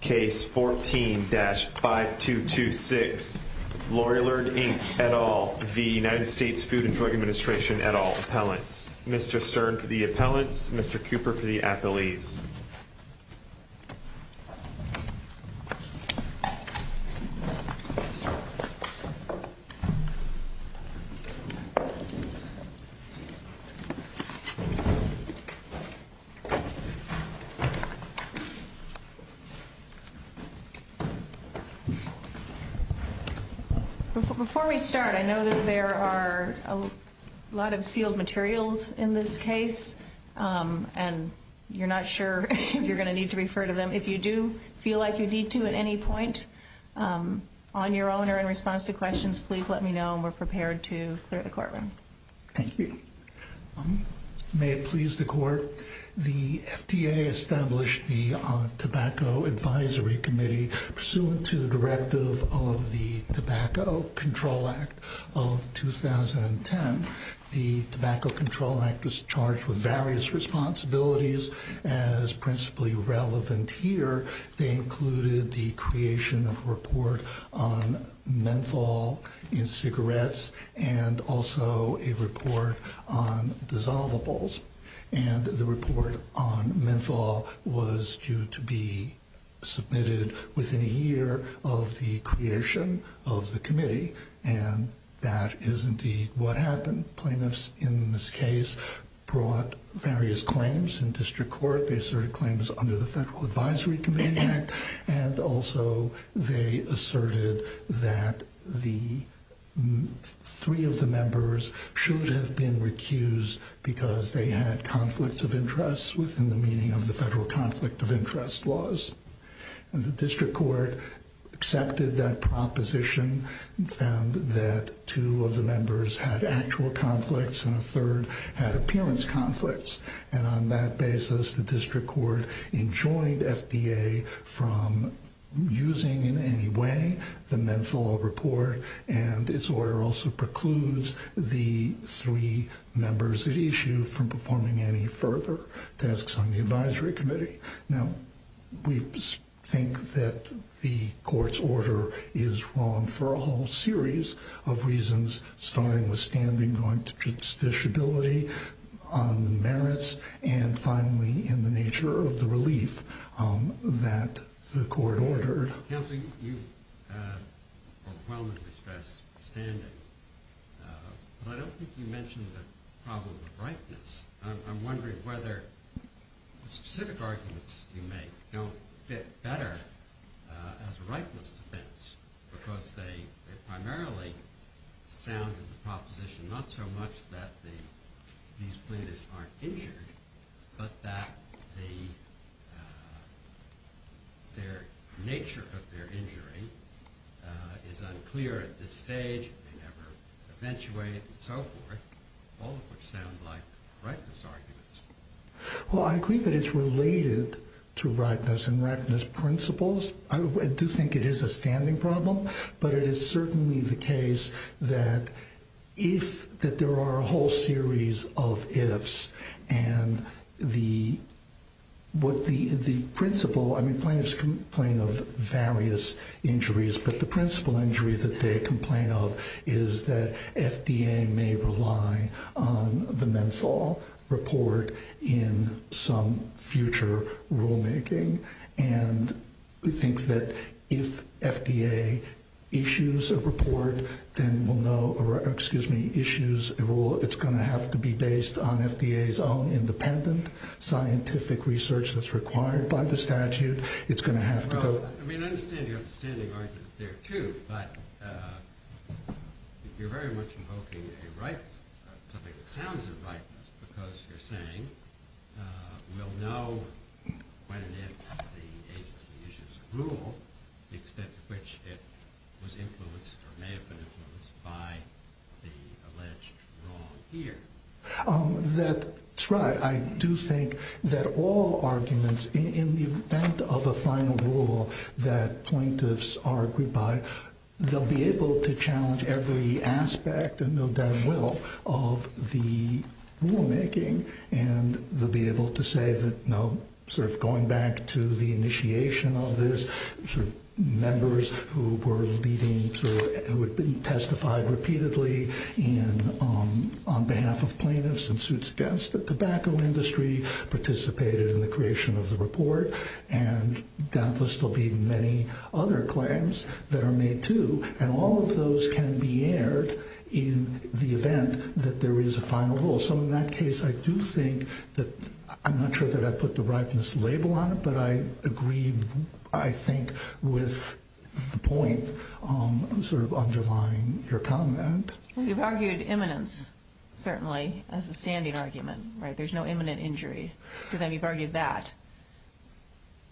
Case 14-5226 Lorillard, Inc. et al. v. U.S. Food and Drug Administration et al. Mr. Stern for the appellants, Mr. Cooper for the appellees. Before we start, I know that there are a lot of sealed materials in this case, and you're not sure if you're going to need to refer to them. If you do feel like you need to at any point on your own or in response to questions, please let me know, and we're prepared to clear the courtroom. Thank you. May it please the court, the FDA established the Tobacco Advisory Committee pursuant to the directive of the Tobacco Control Act of 2010. The Tobacco Control Act was charged with various responsibilities as principally relevant here. They included the creation of a report on menthol in cigarettes and also a report on dissolvables. And the report on menthol was due to be submitted within a year of the creation of the committee, and that is indeed what happened. Plaintiffs in this case brought various claims in district court. They asserted claims under the Federal Advisory Committee Act, and also they asserted that the three of the members should have been recused because they had conflicts of interest within the meaning of the Federal Conflict of Interest laws. And the district court accepted that proposition and found that two of the members had actual conflicts, and on that basis the district court enjoined FDA from using in any way the menthol report, and its order also precludes the three members at issue from performing any further tasks on the advisory committee. Now we think that the court's order is wrong for a whole series of reasons, starting with standing going to justiciability on the merits, and finally in the nature of the relief that the court ordered. Counselor, you overwhelmingly stress standing, but I don't think you mentioned the problem of ripeness. I'm wondering whether the specific arguments you make don't fit better as a ripeness defense because they primarily sound in the proposition not so much that these plaintiffs aren't injured, but that their nature of their injury is unclear at this stage, they never eventuated and so forth, all of which sound like ripeness arguments. Well, I agree that it's related to ripeness and ripeness principles. I do think it is a standing problem, but it is certainly the case that if there are a whole series of ifs, and the principle, plaintiffs complain of various injuries, but the principle injury that they complain of is that FDA may rely on the menthol report in some future rulemaking, and we think that if FDA issues a rule, it's going to have to be based on FDA's own independent scientific research that's required by the statute. I mean, I understand your standing argument there, too, but you're very much invoking something that sounds like ripeness because you're saying we'll know when and if the agency issues a rule the extent to which it was influenced or may have been influenced by the alleged wrong here. That's right. I do think that all arguments in the event of a final rule that plaintiffs are agreed by, they'll be able to challenge every aspect and no doubt will of the rulemaking, and they'll be able to say that going back to the initiation of this, members who had been testified repeatedly on behalf of plaintiffs in suits against the tobacco industry participated in the creation of the report, and doubtless there'll be many other claims that are made, too, and all of those can be aired in the event that there is a final rule. So in that case, I do think that I'm not sure that I put the ripeness label on it, but I agree, I think, with the point sort of underlying your comment. You've argued imminence, certainly, as a standing argument, right? There's no imminent injury. So then you've argued that.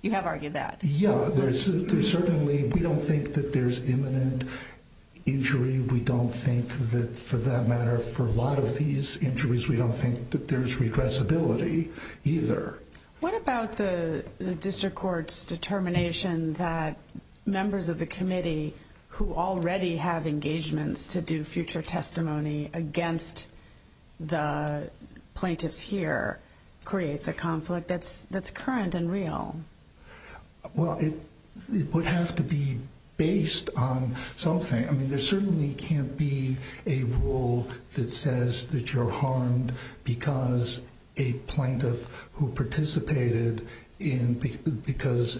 You have argued that. Yeah, certainly we don't think that there's imminent injury. We don't think that, for that matter, for a lot of these injuries, we don't think that there's regressibility either. What about the district court's determination that members of the committee who already have engagements to do future testimony against the plaintiffs here creates a conflict that's current and real? Well, it would have to be based on something. I mean, there certainly can't be a rule that says that you're harmed because a plaintiff who participated in, because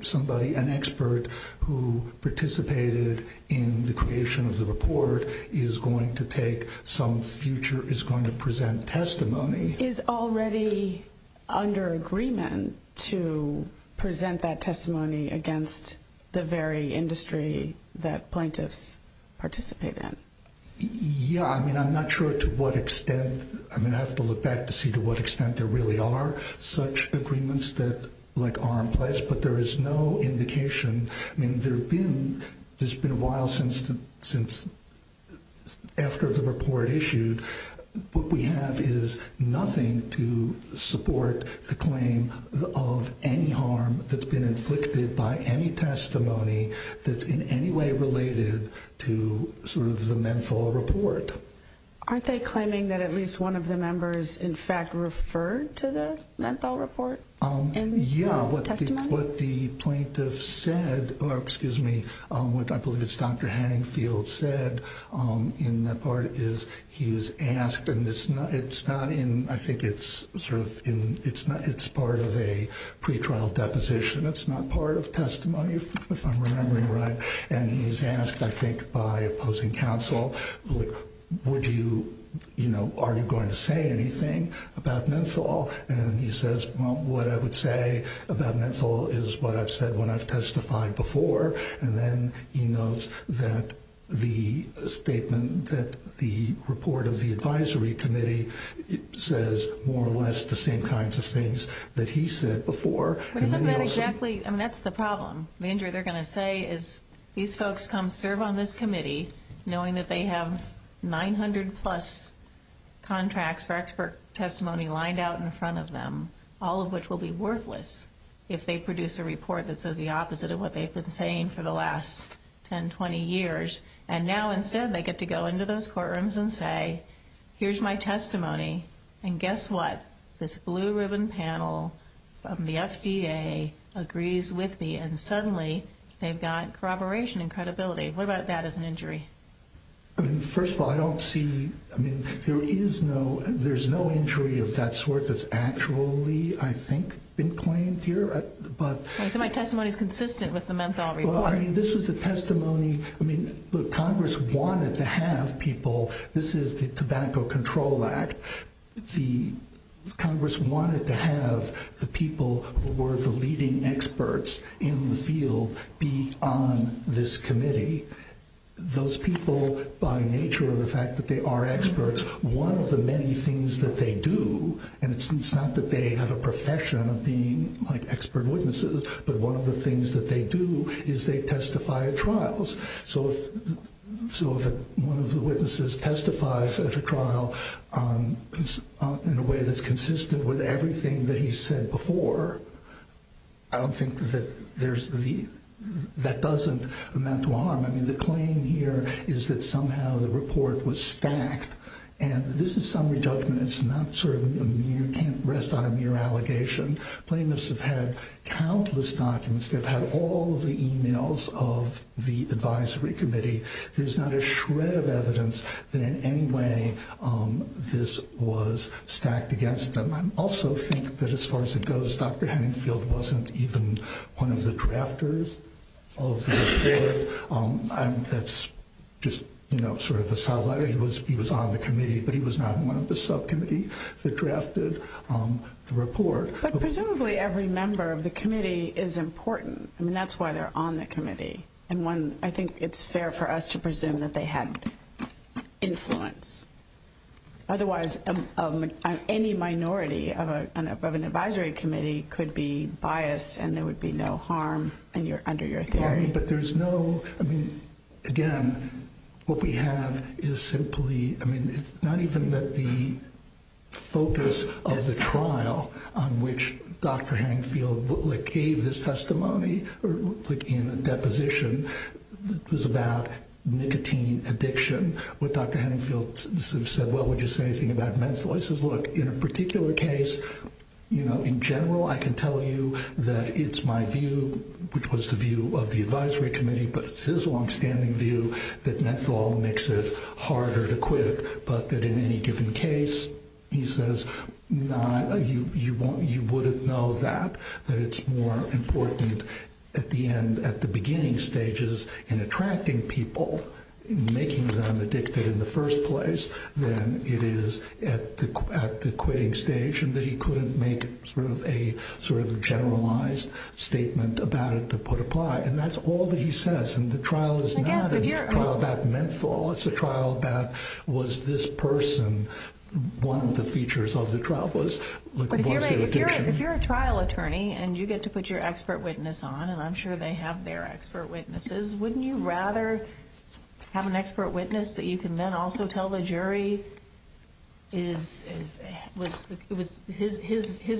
somebody, an expert who participated in the creation of the report is going to take some future, is going to present testimony. Is already under agreement to present that testimony against the very industry that plaintiffs participate in? Yeah. I mean, I'm not sure to what extent. I mean, I have to look back to see to what extent there really are such agreements that, like, are in place. But there is no indication. I mean, there's been a while since, after the report issued, what we have is nothing to support the claim of any harm that's been inflicted by any testimony that's in any way related to sort of the menthol report. Aren't they claiming that at least one of the members, in fact, referred to the menthol report in the testimony? Yeah. What the plaintiff said, or excuse me, what I believe it's Dr. Hanningfield said in that part is he's asked, and it's not in, I think it's sort of in, it's not, it's part of a pretrial deposition. It's not part of testimony, if I'm remembering right. And he's asked, I think, by opposing counsel, would you, you know, are you going to say anything about menthol? And he says, well, what I would say about menthol is what I've said when I've testified before. And then he notes that the statement, that the report of the advisory committee says more or less the same kinds of things that he said before. But isn't that exactly, I mean, that's the problem. The injury they're going to say is these folks come serve on this committee knowing that they have 900 plus contracts for expert testimony lined out in front of them, all of which will be worthless if they produce a report that says the opposite of what they've been saying for the last 10, 20 years. And now instead they get to go into those courtrooms and say, here's my testimony. And guess what? This blue ribbon panel from the FDA agrees with me. And suddenly they've got corroboration and credibility. What about that as an injury? First of all, I don't see, I mean, there is no, there's no injury of that sort that's actually, I think, been claimed here. So my testimony is consistent with the menthol report? Well, I mean, this was the testimony, I mean, the Congress wanted to have people, this is the Tobacco Control Act, the Congress wanted to have the people who were the leading experts in the field be on this committee. Those people, by nature of the fact that they are experts, one of the many things that they do, and it's not that they have a profession of being like expert witnesses, but one of the things that they do is they testify at trials. So if one of the witnesses testifies at a trial in a way that's consistent with everything that he's said before, I don't think that there's the, that doesn't amount to harm. I mean, the claim here is that somehow the report was stacked. And this is summary judgment, it's not sort of a mere, you can't rest on a mere allegation. Plaintiffs have had countless documents, they've had all of the emails of the advisory committee. There's not a shred of evidence that in any way this was stacked against them. I also think that as far as it goes, Dr. Henningfield wasn't even one of the drafters of the report. That's just, you know, sort of a side letter, he was on the committee, but he was not one of the subcommittee that drafted the report. But presumably every member of the committee is important. I mean, that's why they're on the committee. And one, I think it's fair for us to presume that they had influence. Otherwise, any minority of an advisory committee could be biased and there would be no harm under your theory. But there's no, I mean, again, what we have is simply, I mean, it's not even that the focus of the trial on which Dr. Henningfield gave this testimony in a deposition was about nicotine addiction. What Dr. Henningfield said, well, would you say anything about menthol? I said, look, in a particular case, you know, in general, I can tell you that it's my view, which was the view of the advisory committee, but it's his longstanding view that menthol makes it harder to quit, but that in any given case, he says, you wouldn't know that, that it's more important at the end, at the beginning stages, in attracting people, making them addicted in the first place, than it is at the quitting stage, and that he couldn't make a sort of generalized statement about it to put apply. And that's all that he says, and the trial is not about menthol, it's a trial about, was this person one of the features of the trial? If you're a trial attorney and you get to put your expert witness on, and I'm sure they have their expert witnesses, wouldn't you rather have an expert witness that you can then also tell the jury his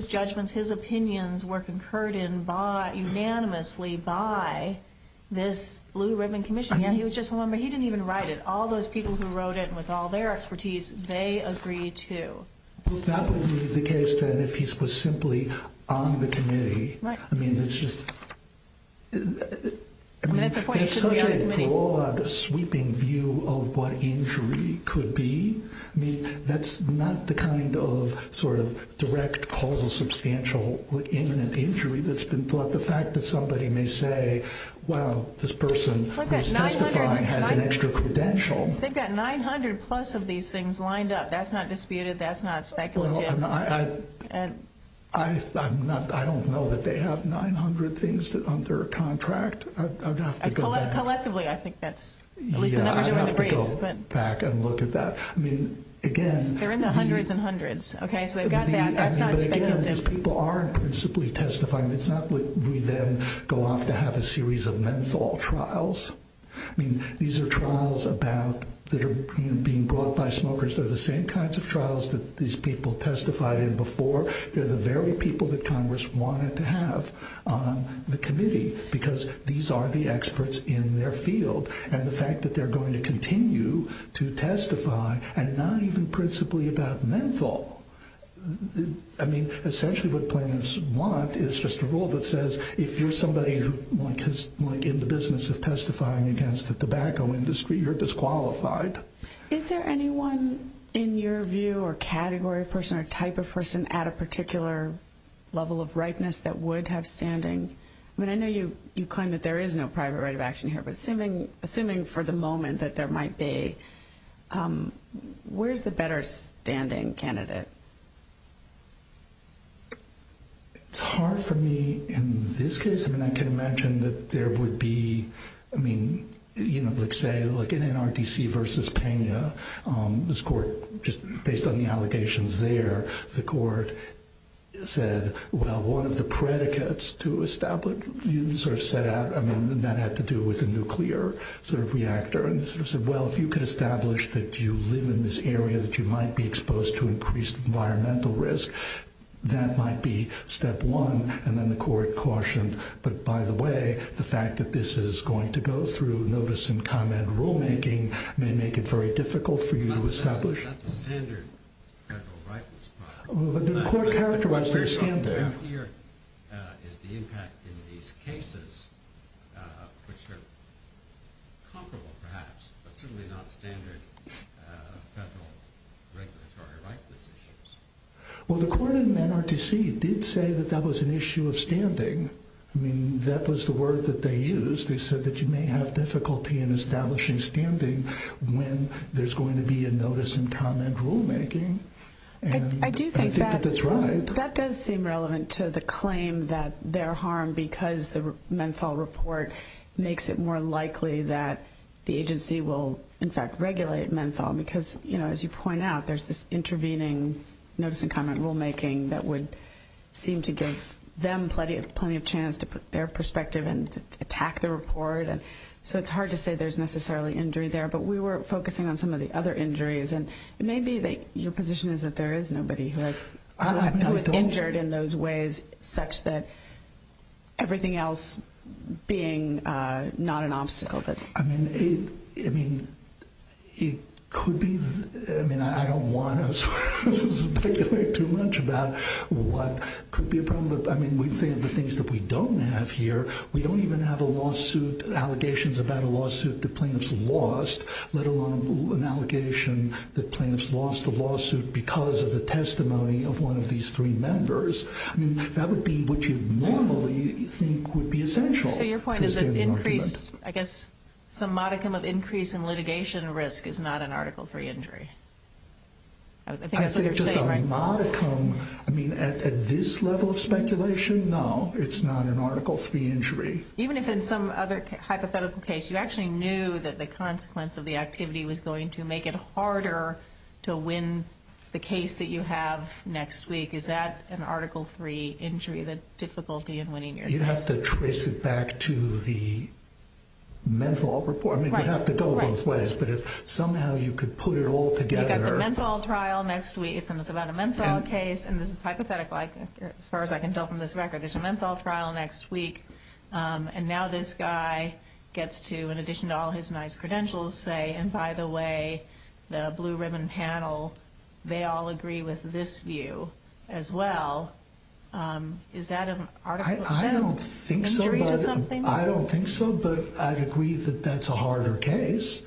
judgments, his opinions were concurred in unanimously by this Lou Redman commission. He didn't even write it, all those people who wrote it with all their expertise, they agreed to. That would be the case if he was simply on the committee. I mean, it's just I mean, there's such a broad sweeping view of what injury could be, that's not the kind of direct, causal, substantial imminent injury that's been thought the fact that somebody may say well, this person who's testifying has an extra credential They've got 900 plus of these things lined up, that's not disputed, that's not speculative I don't know that they have 900 things under contract Collectively, I think that's I mean, again They're in the hundreds and hundreds Okay, so they've got that, that's not speculative These people are principally testifying It's not like we then go off to have a series of menthol trials I mean, these are trials about, that are being brought by smokers, they're the same kinds of trials that these people testified in before They're the very people that Congress wanted to have on the committee, because these are the experts in their field and the fact that they're going to continue to testify, and not even principally about menthol I mean, essentially what plaintiffs want is just a rule that says, if you're somebody in the business of testifying against the tobacco industry, you're disqualified Is there anyone in your view or category of person, or type of person at a particular level of rightness that would have standing I mean, I know you claim that there is no private right of action here, but assuming for the moment that there might be where's the better standing candidate? It's hard for me in this case, I mean, I can mention that there would be I mean, you know, like say in NRDC versus Pena this court, just based on the allegations there, the court said, well one of the predicates to establish sort of set out, I mean that had to do with a nuclear sort of reactor, and sort of said well, if you could establish that you live in this area, that you might be exposed to increased environmental risk that might be step one and then the court cautioned but by the way, the fact that this is going to go through notice and comment rulemaking, may make it very difficult for you to establish That's a standard federal right The court characterized it as standard What you have here is the impact in these cases which are comparable perhaps but certainly not standard federal regulatory right decisions Well the court in NRDC did say that that was an issue of standing I mean, that was the word that they used they said that you may have difficulty in establishing standing when there's going to be a notice and comment rulemaking I do think that that does seem relevant to the claim that their harm because the menthol report makes it more likely that the agency will in fact regulate menthol because as you point out there's this intervening notice and comment rulemaking that would seem to give them plenty of chance to put their perspective and attack the report so it's hard to say there's necessarily injury there but we were focusing on some of the other injuries and maybe your position is that there is nobody who has who is injured in those ways such that everything else being not an obstacle I mean it could be I don't want to speculate too much about what could be a problem the things that we don't have here we don't even have a lawsuit allegations about a lawsuit that plaintiffs lost let alone an allegation that plaintiffs lost a lawsuit because of the testimony of one of these three members that would be what you normally think would be essential so your point is that increased some modicum of increase in litigation risk is not an article 3 injury I think that's what you're saying I think just a modicum at this level of speculation no, it's not an article 3 injury even if in some other hypothetical case you actually knew that the consequence of the activity was going to make it the case that you have next week is that an article 3 injury the difficulty in winning your case you'd have to trace it back to the menthol report you'd have to go both ways but if somehow you could put it all together you've got the menthol trial next week it's about a menthol case and this is hypothetical as far as I can tell from this record there's a menthol trial next week and now this guy gets to in addition to all his nice credentials say and by the way the blue ribbon panel they all agree with this view as well is that an article 3 injury I don't think so but I'd agree that that's a harder case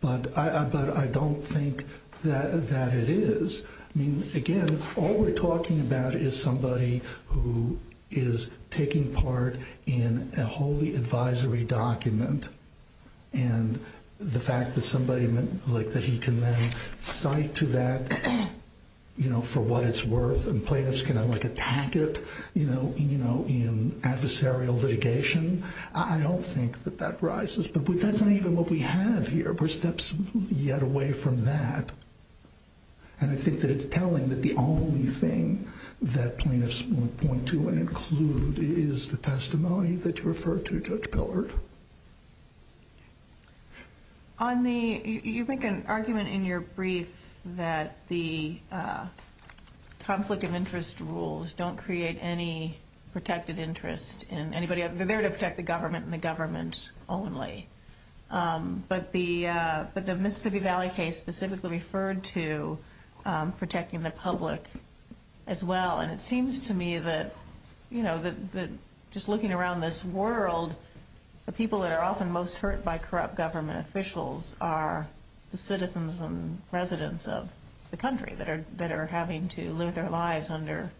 but I don't think that it is I mean again all we're talking about is somebody who is taking part in a holy advisory document and the fact that somebody that he can then cite to that for what it's worth and plaintiffs can attack it in adversarial litigation I don't think that that rises but that's not even what we have here we're steps yet away from that and I think that it's telling that the only thing that plaintiffs want to point to and include is the testimony that you referred to Judge Pillard on the you make an argument in your brief that the conflict of interest rules don't create any protected interest in anybody they're there to protect the government and the government only but the Mississippi Valley case specifically referred to protecting the public as well and it seems to me that just looking around this world the people that are often most hurt by corrupt government officials are the citizens and residents of the country that are having to live their lives under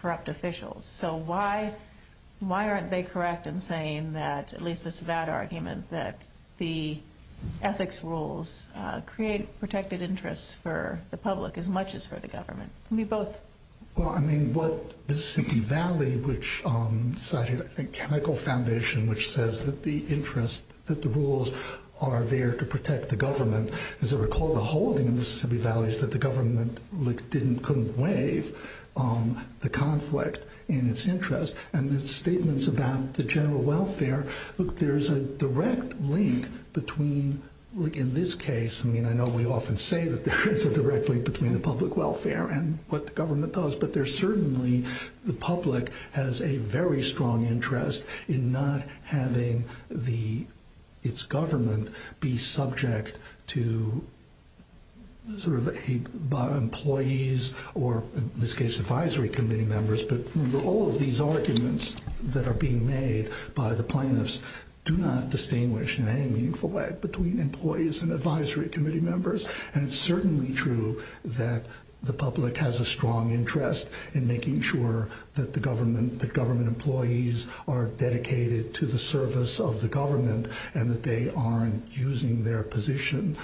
corrupt officials so why aren't they correct in saying that at least this is that argument that the ethics rules create protected interest for the public as much as for the government we both well I mean what Mississippi Valley which cited I think chemical foundation which says that the interest that the rules are there to protect the government as I recall the holding in Mississippi Valley is that the government couldn't waive the conflict in its interest and the statements about the general welfare look there's a direct link between in this case I mean I know we often say that there is a direct link between the public welfare and what the government does but there certainly the public has a very strong interest in not having the its government be subject to sort of by employees or in this case advisory committee members but all of these arguments that are being made by the plaintiffs do not distinguish in any meaningful way between employees and advisory committee members and it's certainly true that the public has a strong interest in making sure that the government employees are dedicated to the service of the government and that they aren't using their position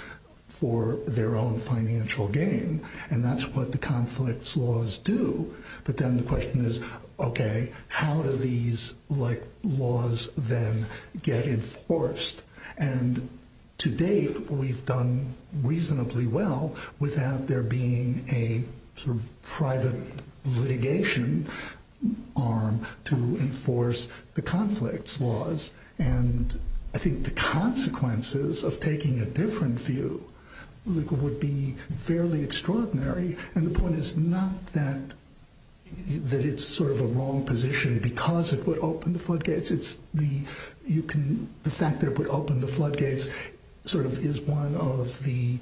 for their own financial gain and that's what the conflicts laws do but then the question is how do these laws then get enforced and to date we've done reasonably well without there being a sort of private litigation arm to enforce the conflicts laws and I think the consequences of taking a different view would be fairly extraordinary and the point is not that it's sort of a wrong position because it would open the floodgates it's the fact that it would open the floodgates sort of is one of the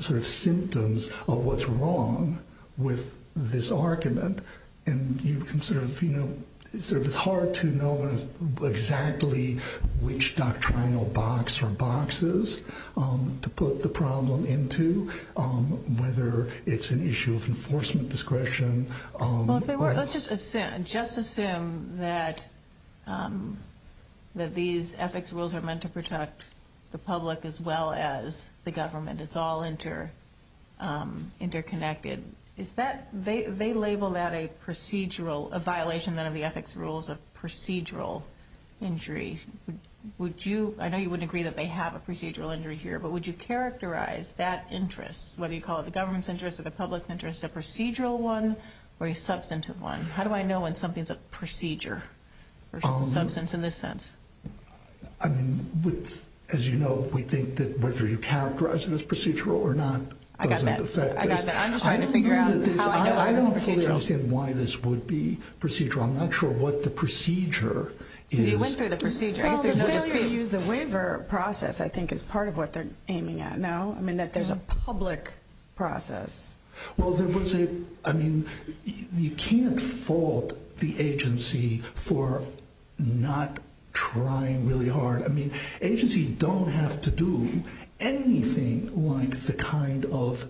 sort of symptoms of what's wrong with this argument and you sort of, you know, it's hard to know exactly which doctrinal box or boxes to put the problem into whether it's an issue of enforcement discretion Let's just assume just assume that that these ethics rules are meant to protect the public as well as the government, it's all interconnected they label that a procedural, a violation then of the ethics rules of procedural injury, would you I know you wouldn't agree that they have a procedural injury here but would you characterize that interest, whether you call it the government's interest or the public's interest, a procedural one or a substantive one? How do I know when something's a procedure or substance in this sense? I mean, with as you know, we think that whether you characterize it as procedural or not I got that, I'm just trying to figure out I don't fully understand why this would be procedural, I'm not sure what the procedure is you went through the procedure, I guess there's no dispute the waiver process I think is part of what they're aiming at now, I mean that there's a public process well there was a you can't fault the agency for not trying really hard, I mean, agencies don't have to do anything like the kind of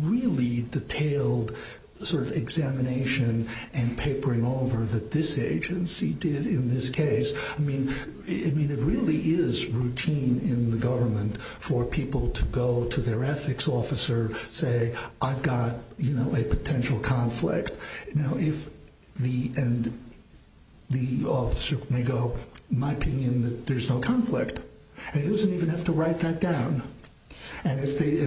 really detailed sort of examination and papering over that this agency did in this case I mean, it really is routine in the government for people to go to their ethics officer and say I've got a potential conflict and the officer may go, in my opinion there's no conflict and he doesn't even have to write that down and if the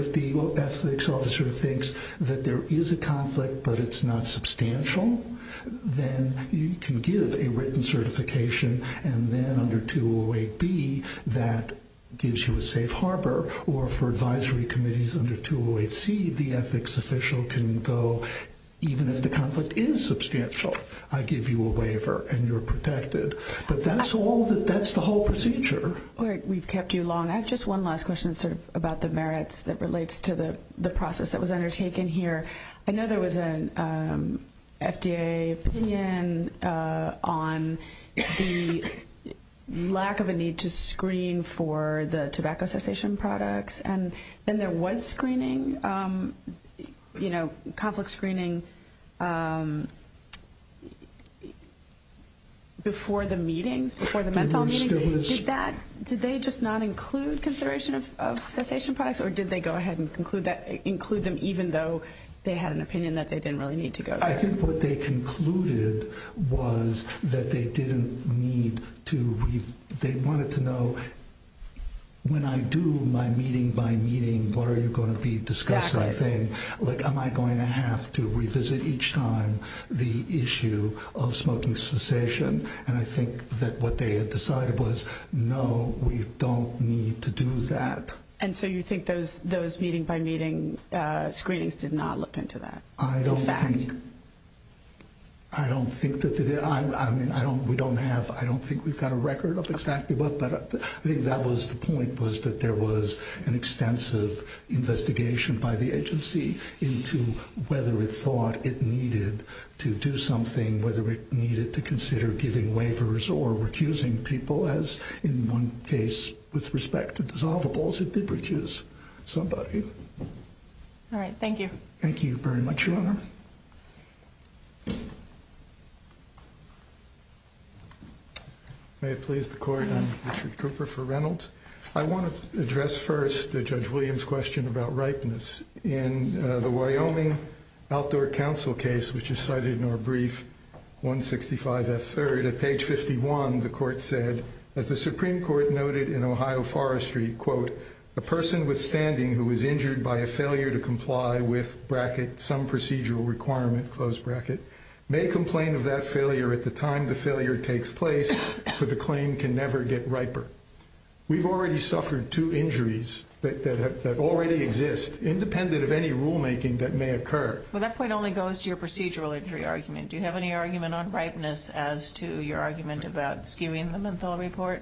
ethics officer thinks that there is a conflict but it's not substantial then you can give a written certification and then under 208B that gives you a safe harbor or for advisory committees under 208C, the ethics official can go, even if the conflict is substantial I give you a waiver and you're protected but that's all, that's the whole procedure. Alright, we've kept you long I have just one last question sort of about the merits that relates to the process that was undertaken here, I know there was an FDA opinion on the lack of a need to screen for the tobacco cessation products and then there was screening you know conflict screening before the meetings, before the menthol meetings did they just not include consideration of cessation products or did they go ahead and include them even though they had an opinion that they didn't really need to go there? I think what they concluded was that they didn't need to they wanted to know when I do my meeting by meeting, what are you going to be discussing? Like am I going to have to revisit each time the issue of smoking cessation? And I think that what they had decided was no, we don't need to do that. And so you think those meeting by meeting screenings did not look into that? I don't think I don't think we don't have I don't think we've got a record of exactly but I think that was the point was that there was an extensive investigation by the agency into whether it thought it needed to do something, whether it needed to consider giving waivers or recusing people as in one case it did recuse somebody Alright, thank you. Thank you very much, Your Honor. May it please the Court I'm Richard Cooper for Reynolds I want to address first Judge Williams' question about ripeness In the Wyoming Outdoor Council case which is cited in our brief 165F3, at page 51, the Court said as the Supreme Court noted in Ohio Forestry, quote, a person withstanding who was injured by a failure to comply with, bracket, some procedural requirement, close bracket may complain of that failure at the time the failure takes place for the claim can never get riper We've already suffered two injuries that already exist, independent of any rulemaking that may occur Well, that point only goes to your procedural injury argument Do you have any argument on ripeness as to your argument about skewing the menthol report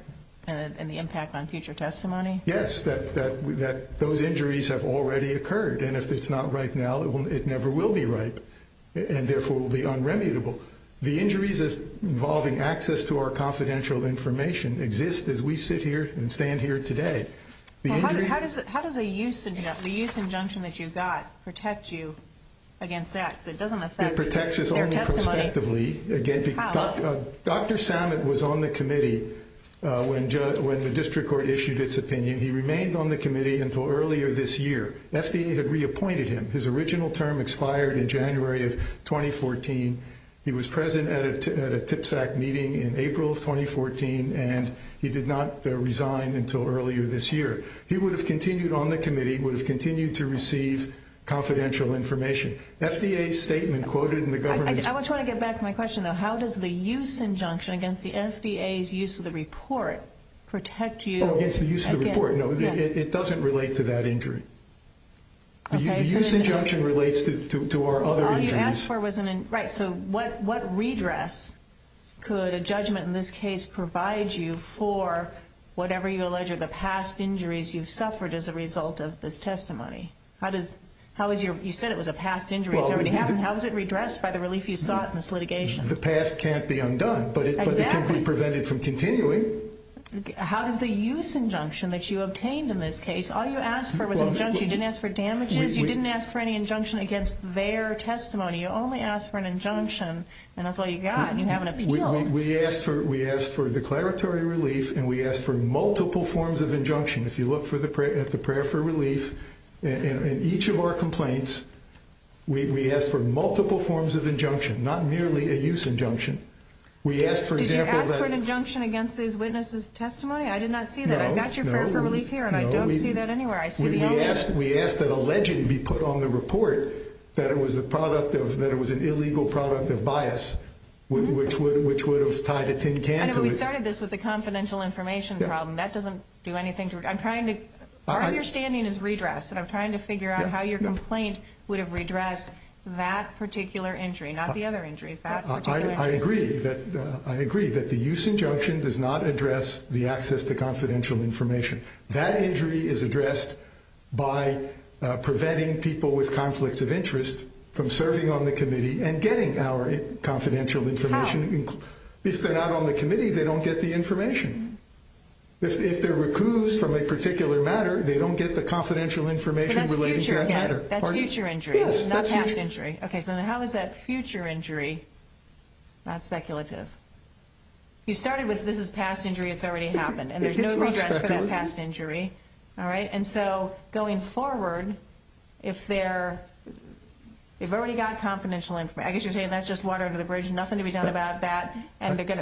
and the impact on future testimony? Yes, that those injuries have already occurred and if it's not right now, it never will be right, and therefore will be unremitable. The injuries involving access to our confidential information exist as we sit here and stand here today How does a use injunction that you got protect you against that? It protects us only prospectively How? Dr. Samet was on the committee when the District Court issued its opinion. He remained on the committee until earlier this year. FDA had his original term expired in January of 2014. He was present at a TIPSAC meeting in April of 2014 and he did not resign until earlier this year. He would have continued on the committee, would have continued to receive confidential information FDA's statement quoted in the government's I want to get back to my question, though. How does the use injunction against the FDA's use of the report protect you against the use of the report? It doesn't relate to that injury The use injunction relates to our other injuries So what redress could a judgment in this case provide you for whatever you allege are the past injuries you've suffered as a result of this testimony? You said it was a past injury How is it redressed by the relief you sought in this litigation? The past can't be undone but it can be prevented from continuing How does the use injunction that you obtained in this case All you asked for was injunction You didn't ask for damages, you didn't ask for any injunction against their testimony You only asked for an injunction and that's all you got We asked for declaratory relief and we asked for multiple forms of injunction If you look at the prayer for relief in each of our complaints we asked for multiple forms of injunction not merely a use injunction Did you ask for an injunction against these witnesses' testimony? I did not see that. I got your prayer for relief here and I don't see that anywhere We asked that alleging be put on the report that it was a product of that it was an illegal product of bias which would have tied a tin can to it We started this with a confidential information problem that doesn't do anything to it Our understanding is redress and I'm trying to figure out how your complaint would have redressed that particular injury not the other injuries I agree that the use injunction does not address the access to confidential information That injury is addressed by preventing people with conflicts of interest from serving on the committee and getting our confidential information How? If they're not on the committee they don't get the information If they're recused from a particular matter they don't get the confidential information That's future injury How is that future injury not speculative? You started with this is past injury, it's already happened and there's no redress for that past injury and so going forward if they're they've already got confidential information I guess you're saying that's just water under the bridge nothing to be done about that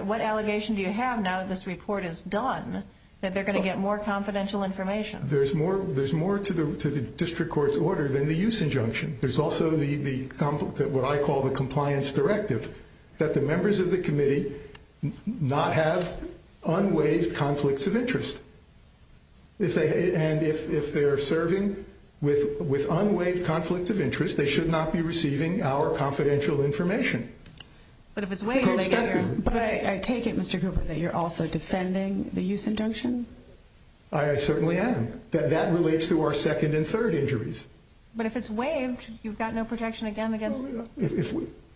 What allegation do you have now that this report is done that they're going to get more confidential information? There's more to the district court's order than the use injunction There's also what I call the compliance directive that the members of the committee not have unwaived conflicts of interest and if they're serving with unwaived conflicts of interest they should not be receiving our confidential information But if it's waived I take it Mr. Cooper that you're also defending the use injunction I certainly am That relates to our second and third injuries But if it's waived you've got no protection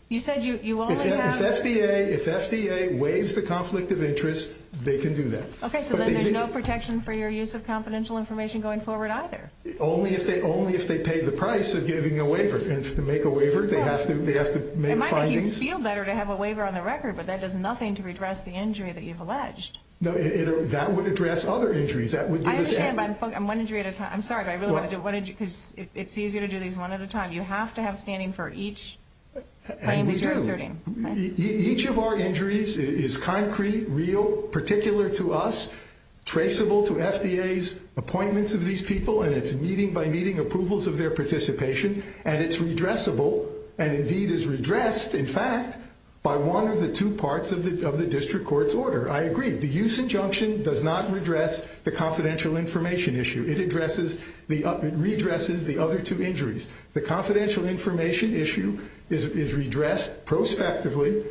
You said you only have If FDA waives the conflict of interest they can do that So there's no protection for your use of confidential information going forward either Only if they pay the price of giving a waiver and to make a waiver they have to make findings It might make you feel better to have a waiver on the record but that does nothing to redress the injury that you've alleged That would address other injuries I understand but I'm one injury at a time I'm sorry but I really want to do one injury It's easier to do these one at a time You have to have standing for each claim that you're asserting Each of our injuries is concrete real, particular to us traceable to FDA's appointments of these people and it's meeting by meeting approvals of their participation and it's redressable and indeed is redressed in fact by one of the two parts of the district court's order I agree, the use injunction does not redress the confidential information issue It redresses the other two injuries The confidential information issue is redressed prospectively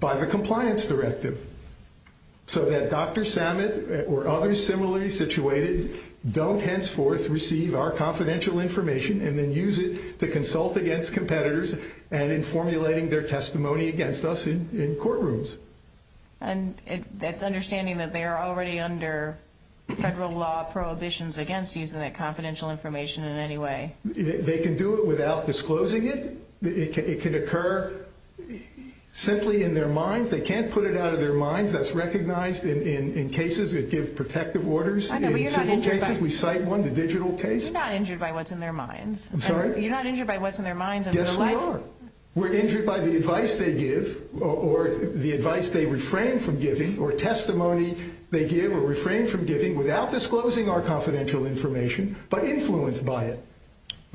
by the compliance directive so that Dr. Samet or others similarly situated don't henceforth receive our confidential information and then use it to consult against competitors and in formulating their testimony against us in courtrooms That's understanding that they are already under federal law prohibitions against using that confidential information in any way They can do it without disclosing it It can occur simply in their minds They can't put it out of their minds that's recognized in cases that give protective orders We cite one, the digital case You're not injured by what's in their minds Yes we are We're injured by the advice they give or the advice they refrain from giving or testimony they give or refrain from giving without disclosing our confidential information but influenced by it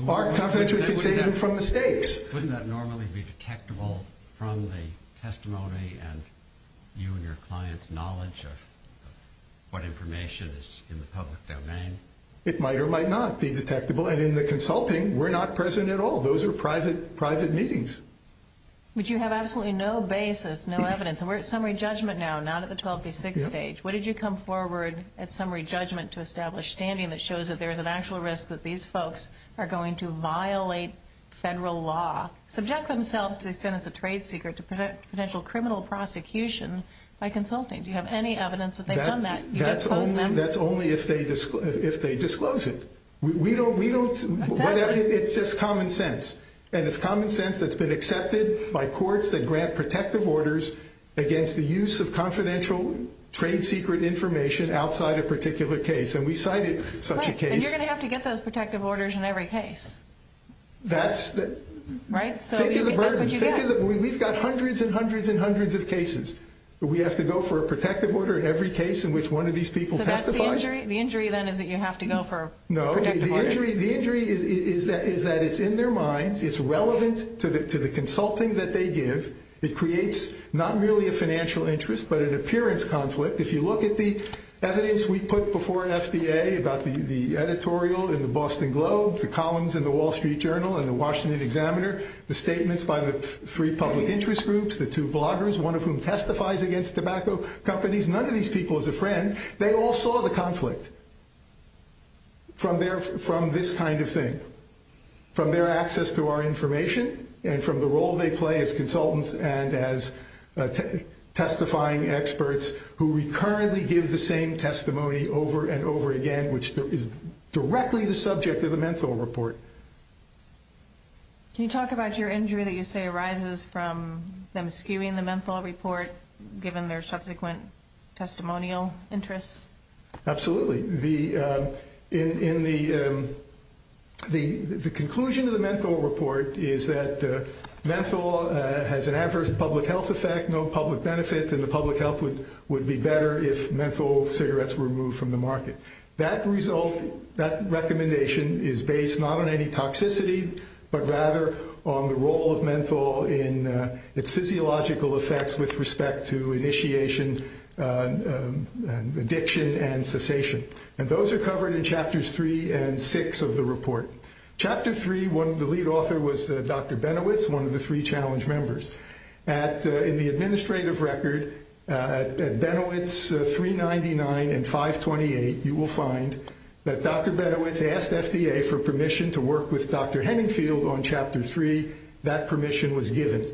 Our confidential information from mistakes Wouldn't that normally be detectable from the testimony and you and your client's knowledge of what information is in the public domain It might or might not be detectable and in the consulting we're not present at all Those are private meetings But you have absolutely no basis no evidence and we're at summary judgment now not at the 12 v. 6 stage What did you come forward at summary judgment to establish standing that shows that there's an actual risk that these folks are going to violate federal law subject themselves to the extent it's a trade secret to potential criminal prosecution by consulting Do you have any evidence that they've done that That's only if they disclose it It's just common sense and it's common sense that's been accepted by courts that grant protective orders against the use of confidential trade secret information outside a particular case and we cited such a case And you're going to have to get those protective orders in every case Think of the burden We've got hundreds and hundreds of cases We have to go for a protective order in every case So that's the injury No, the injury is that it's in their minds it's relevant to the consulting that they give it creates not merely a financial interest but an appearance conflict If you look at the evidence we put before FDA about the editorial in the Boston Globe the columns in the Wall Street Journal and the Washington Examiner the statements by the three public interest groups the two bloggers one of whom testifies against tobacco companies none of these people is a friend they all saw the conflict from this kind of thing from their access to our information and from the role they play as consultants and as testifying experts who recurrently give the same testimony over and over again which is directly the subject of the Menthol Report Can you talk about your injury that you say arises from them skewing the Menthol Report given their subsequent testimonial interests? Absolutely In the the conclusion of the Menthol Report is that Menthol has an adverse public health effect, no public benefit and the public health would be better if menthol cigarettes were removed from the market That result that recommendation is based not on any toxicity but rather on the role of menthol in its physiological effects with respect to initiation addiction and cessation and those are covered in chapters 3 and 6 of the report Chapter 3, the lead author was Dr. Benowitz, one of the three challenge members in the administrative record Benowitz 399 and 528 you will find that Dr. Benowitz asked FDA for permission to work with Dr. Henningfield on chapter 3 that permission was given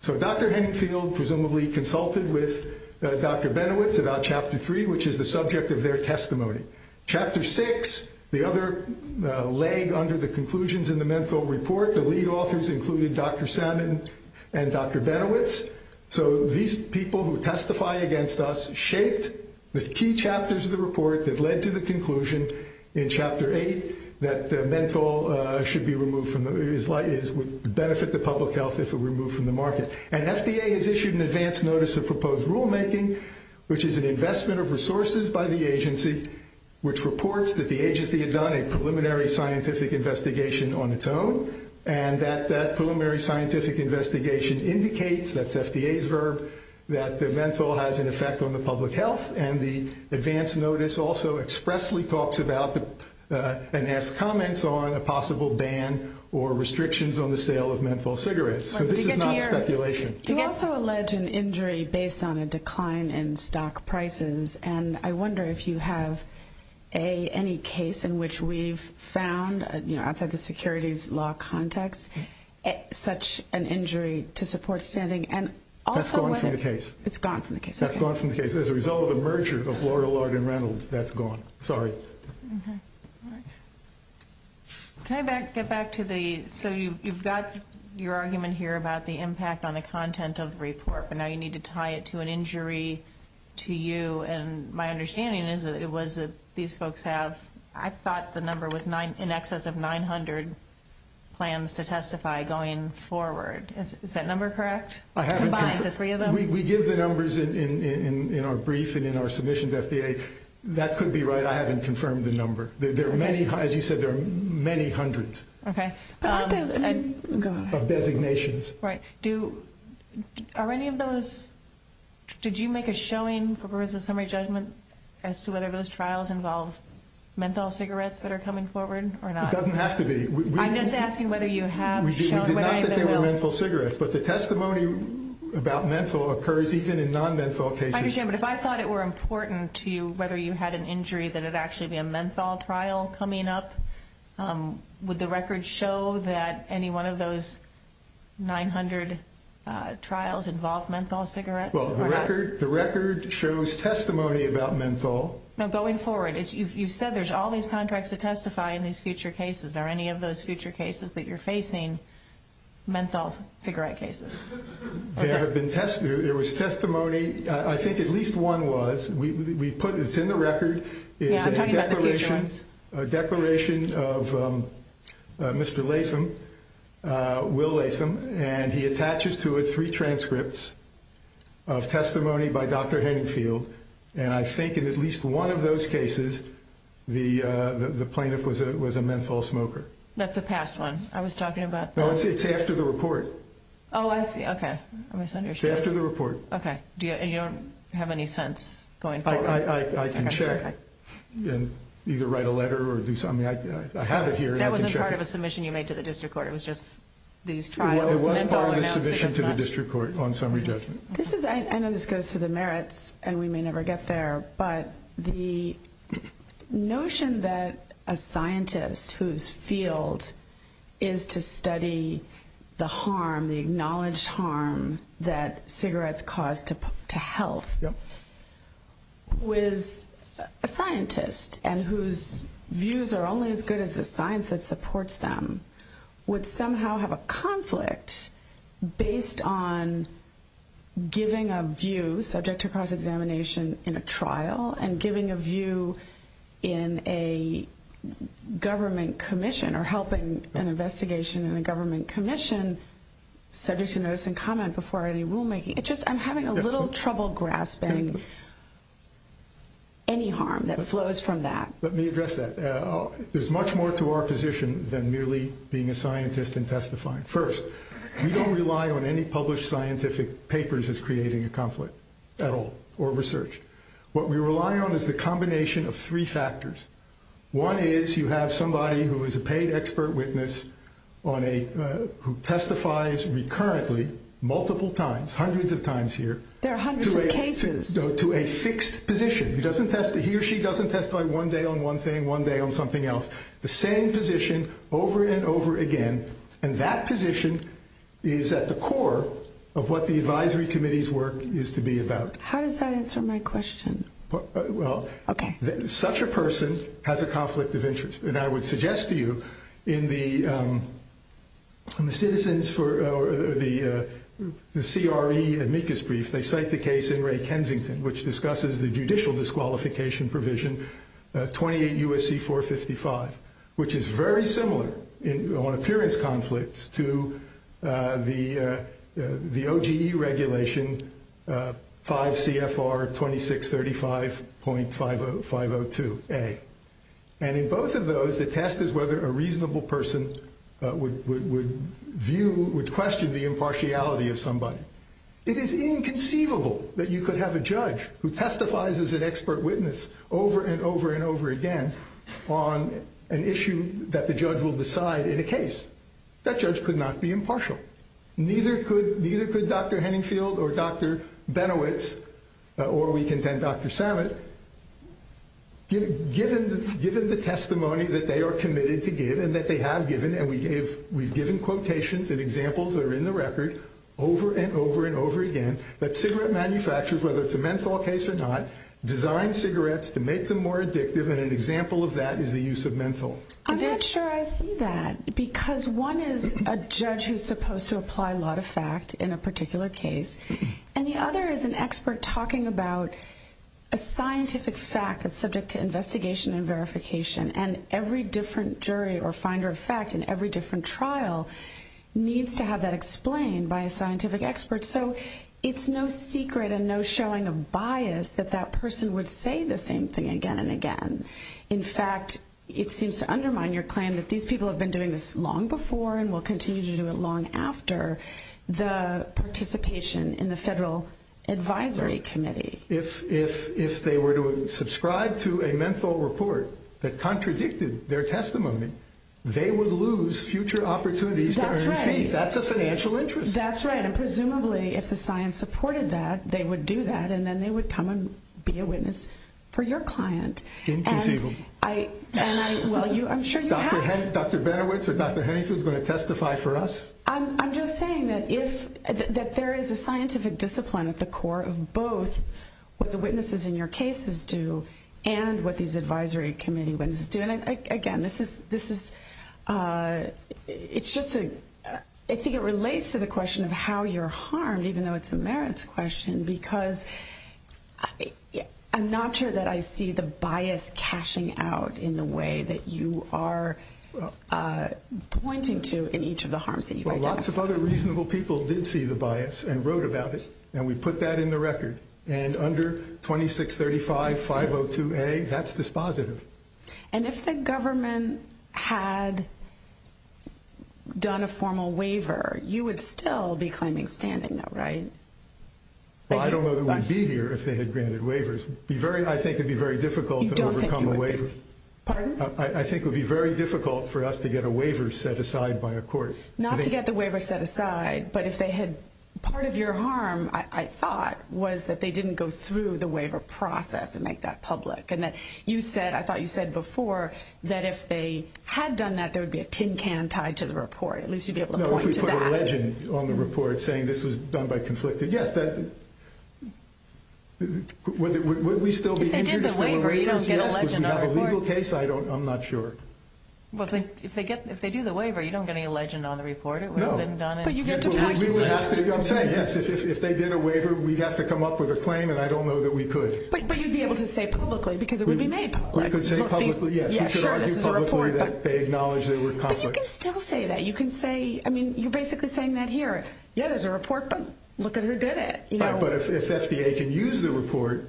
so Dr. Henningfield presumably consulted with Dr. Benowitz about chapter 3 which is the subject of their testimony Chapter 6, the other leg under the conclusions in the Menthol Report the lead authors included Dr. Salmon and Dr. Benowitz so these people who testify against us shaped the key chapters of the report that led to the conclusion in chapter 8 that menthol would benefit the public health if removed from the market and FDA has issued an advance notice of proposed rulemaking which is an investment of resources by the agency which reports that the agency had done a preliminary scientific investigation on its own and that preliminary scientific investigation indicates that's FDA's verb that the menthol has an effect on the public health and the advance notice also expressly talks about and has comments on a possible ban or restrictions on the sale of menthol cigarettes so this is not speculation You also allege an injury based on a decline in stock prices and I wonder if you have any case in which we've found outside the securities law context such an injury to support standing That's gone from the case as a result of a merger of Laurel Arden Reynolds that's gone Can I get back to the so you've got your argument here about the impact on the content of the report but now you need to tie it to an injury to you and my understanding is that these folks have I thought the number was in excess of 900 plans to testify going forward is that number correct? We give the numbers in our brief and in our submission to FDA that could be right I haven't confirmed the number as you said there are many hundreds of designations Are any of those did you make a showing for a summary judgment as to whether those trials involve menthol cigarettes that are coming forward or not? It doesn't have to be I'm just asking whether you have shown We did not that they were menthol cigarettes but the testimony about menthol occurs even in non menthol cases I understand but if I thought it were important to you whether you had an injury that it would actually be a menthol trial coming up would the record show that any one of those 900 trials involve menthol cigarettes? The record shows testimony about menthol You said there's all these contracts to testify in these future cases are any of those future cases that you're facing menthol cigarette cases? There have been there was testimony I think at least one was it's in the record a declaration of Mr. Latham Will Latham and he attaches to it three transcripts of testimony by Dr. Henningfield and I think in at least one of those cases the plaintiff was a menthol smoker That's a past one It's after the report Oh I see It's after the report And you don't have any sense going forward? I can check and either write a letter I have it here That wasn't part of a submission you made to the district court It was part of a submission to the district court I know this goes to the merits and we may never get there but the notion that a scientist whose field is to study the harm, the acknowledged harm that cigarettes cause to health was a scientist and whose views are only as good as the science that supports them would somehow have a conflict based on giving a view subject to cross-examination in a trial and giving a view in a government commission or helping an investigation in a government commission subject to notice and comment before any rulemaking I'm having a little trouble grasping any harm that flows from that Let me address that There's much more to our position than merely being a scientist and testifying First, we don't rely on any published scientific papers as creating a conflict at all or research. What we rely on is the combination of three factors One is you have somebody who is a paid expert witness who testifies recurrently, multiple times hundreds of times here to a fixed position He or she doesn't testify one day on one thing, one day on something else The same position over and over again and that position is at the core of what the Advisory Committee's work is to be about How does that answer my question? Such a person has a conflict of interest and I would suggest to you in the Citizens for the CRE amicus brief, they cite the case in Ray Kensington which discusses the judicial disqualification provision 28 U.S.C. 455 which is very similar on appearance conflicts to the OGE regulation 5 CFR 2635.502A And in both of those, the test is whether a reasonable person would view, would question the impartiality of somebody It is inconceivable that you could have a judge who testifies as an expert witness over and over and over again on an issue that the judge will decide in a case That judge could not be impartial Neither could Dr. Henningfield or Dr. Benowitz or we contend Dr. Samet given the testimony that they are committed to give and that they have given and we've given quotations and examples that are in the record over and over and over again that cigarette manufacturers, whether it's a menthol case design cigarettes to make them more addictive and an example of that is the use of menthol I'm not sure I see that because one is a judge who's supposed to apply law to fact in a particular case and the other is an expert talking about a scientific fact that's subject to investigation and verification and every different jury or finder of fact in every different trial needs to have that explained by a scientific expert so it's no secret and no showing of bias that that person would say the same thing again and again in fact it seems to undermine your claim that these people have been doing this long before and will continue to do it long after the participation in the federal advisory committee if they were to subscribe to a menthol report that contradicted their testimony they would lose future opportunities to earn a fee that's a financial interest that's right and presumably if the science supported that they would do that and then they would come and be a witness for your client inconceivable Dr. Benowitz or Dr. Hennington is going to testify for us I'm just saying that there is a scientific discipline at the core of both what the witnesses in your cases do and what these advisory committee witnesses do and again this is it's just I think it relates to the question of how you're harmed even though it's a merits question because I'm not sure that I see the bias cashing out in the way that you are pointing to in each of the harms that you might have. Well lots of other reasonable people did see the bias and wrote about it and we put that in the record and under 2635502A that's dispositive and if the government had done a formal waiver you would still be claiming standing right? I don't know that we would be here if they had granted waivers I think it would be very difficult to overcome a waiver I think it would be very difficult for us to get a waiver set aside by a court not to get the waiver set aside but if they had part of your harm I thought was that they didn't go through the waiver process and make that public and I thought you said before that if they had done that there would be a tin can tied to the report at least you'd be able to point to that no if we put a legend on the report saying this was done by conflict yes if they did the waiver you don't get a legend on the report I'm not sure if they do the waiver you don't get any legend on the report I'm saying yes if they did a waiver we'd have to come up with a claim and I don't know that we could but you'd be able to say publicly because it would be made public but you can still say that you're basically saying that here yeah there's a report but look at who did it but if FDA can use the report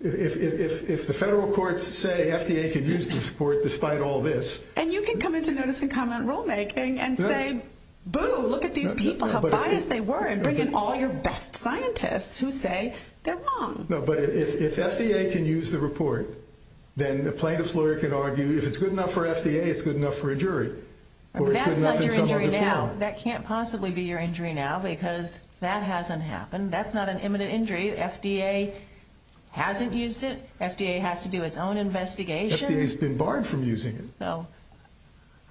if the federal courts say FDA can use the report despite all this and you can come into notice and comment rulemaking and say boo look at these people how biased they were and bring in all your best scientists who say they're wrong but if FDA can use the report then the plaintiff's lawyer can argue if it's good enough for FDA it's good enough for a jury that's not your injury now that can't possibly be your injury now because that hasn't happened that's not an imminent injury FDA hasn't used it FDA has to do its own investigation FDA's been barred from using it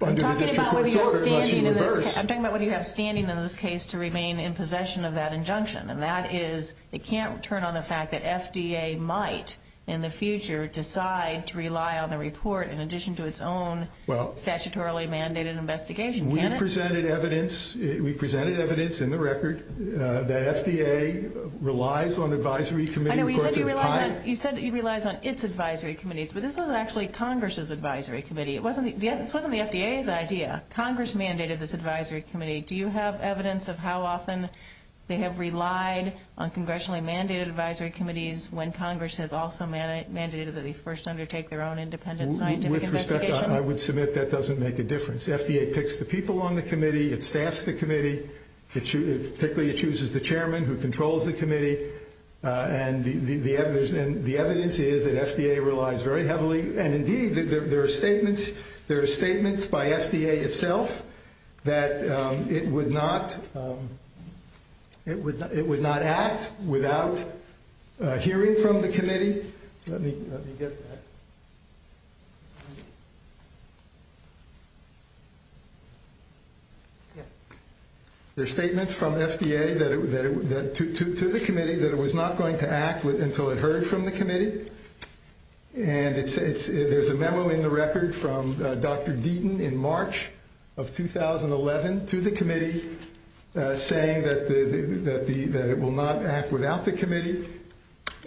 under the district court's order I'm talking about whether you have standing in this case to remain in possession of that injunction and that is they can't turn on the fact that FDA might in the future decide to rely on the report in addition to its own statutorily mandated investigation we presented evidence we presented evidence in the record that FDA relies on advisory committees you said it relies on its advisory committees but this wasn't actually Congress's advisory committee this wasn't the FDA's idea Congress mandated this advisory committee do you have evidence of how often they have relied on congressionally mandated advisory committees when Congress has also mandated that they first undertake their own independent scientific investigation? I would submit that doesn't make a difference FDA picks the people on the committee it staffs the committee particularly it chooses the chairman who controls the committee and the evidence is that FDA relies very heavily there are statements by FDA itself that it would not it would not act without hearing from the committee let me get that there are statements from FDA to the committee that it was not going to act until it heard from the committee and there's a memo in the record from Dr. Deaton in March of 2011 to the committee saying that it will not act without the committee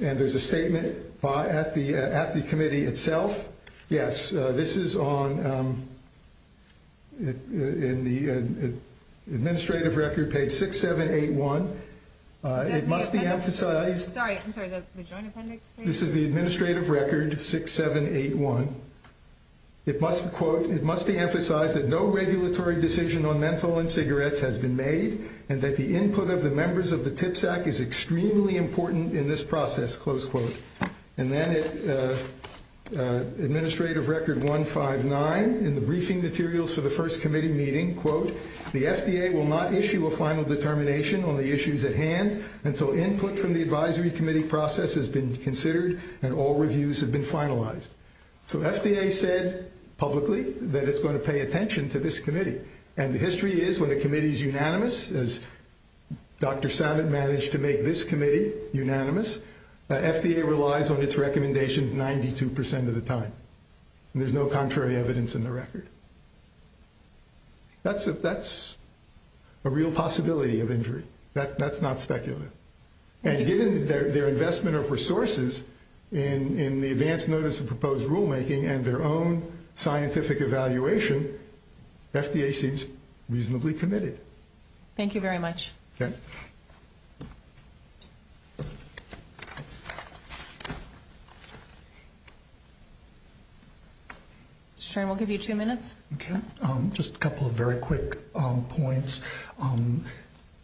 and there's a statement at the committee itself yes this is on in the administrative record page 6781 it must be emphasized this is the administrative record 6781 it must be emphasized that no regulatory decision on menthol and cigarettes has been made and that the input of the members of the TIPS Act is extremely important in this process and then administrative record 159 in the briefing materials for the first committee meeting the FDA will not issue a final determination on the issues at hand until input from the advisory committee process has been considered and all reviews have been finalized so FDA said publicly that it's going to pay attention to this committee and the history is when a committee is unanimous as Dr. Samet managed to make this committee unanimous FDA relies on its recommendations 92% of the time there's no contrary evidence in the record that's a real possibility of injury that's not speculative and given their investment of resources in the advance notice of proposed rulemaking and their own scientific evaluation FDA seems reasonably committed thank you very much we'll give you two minutes just a couple of very quick points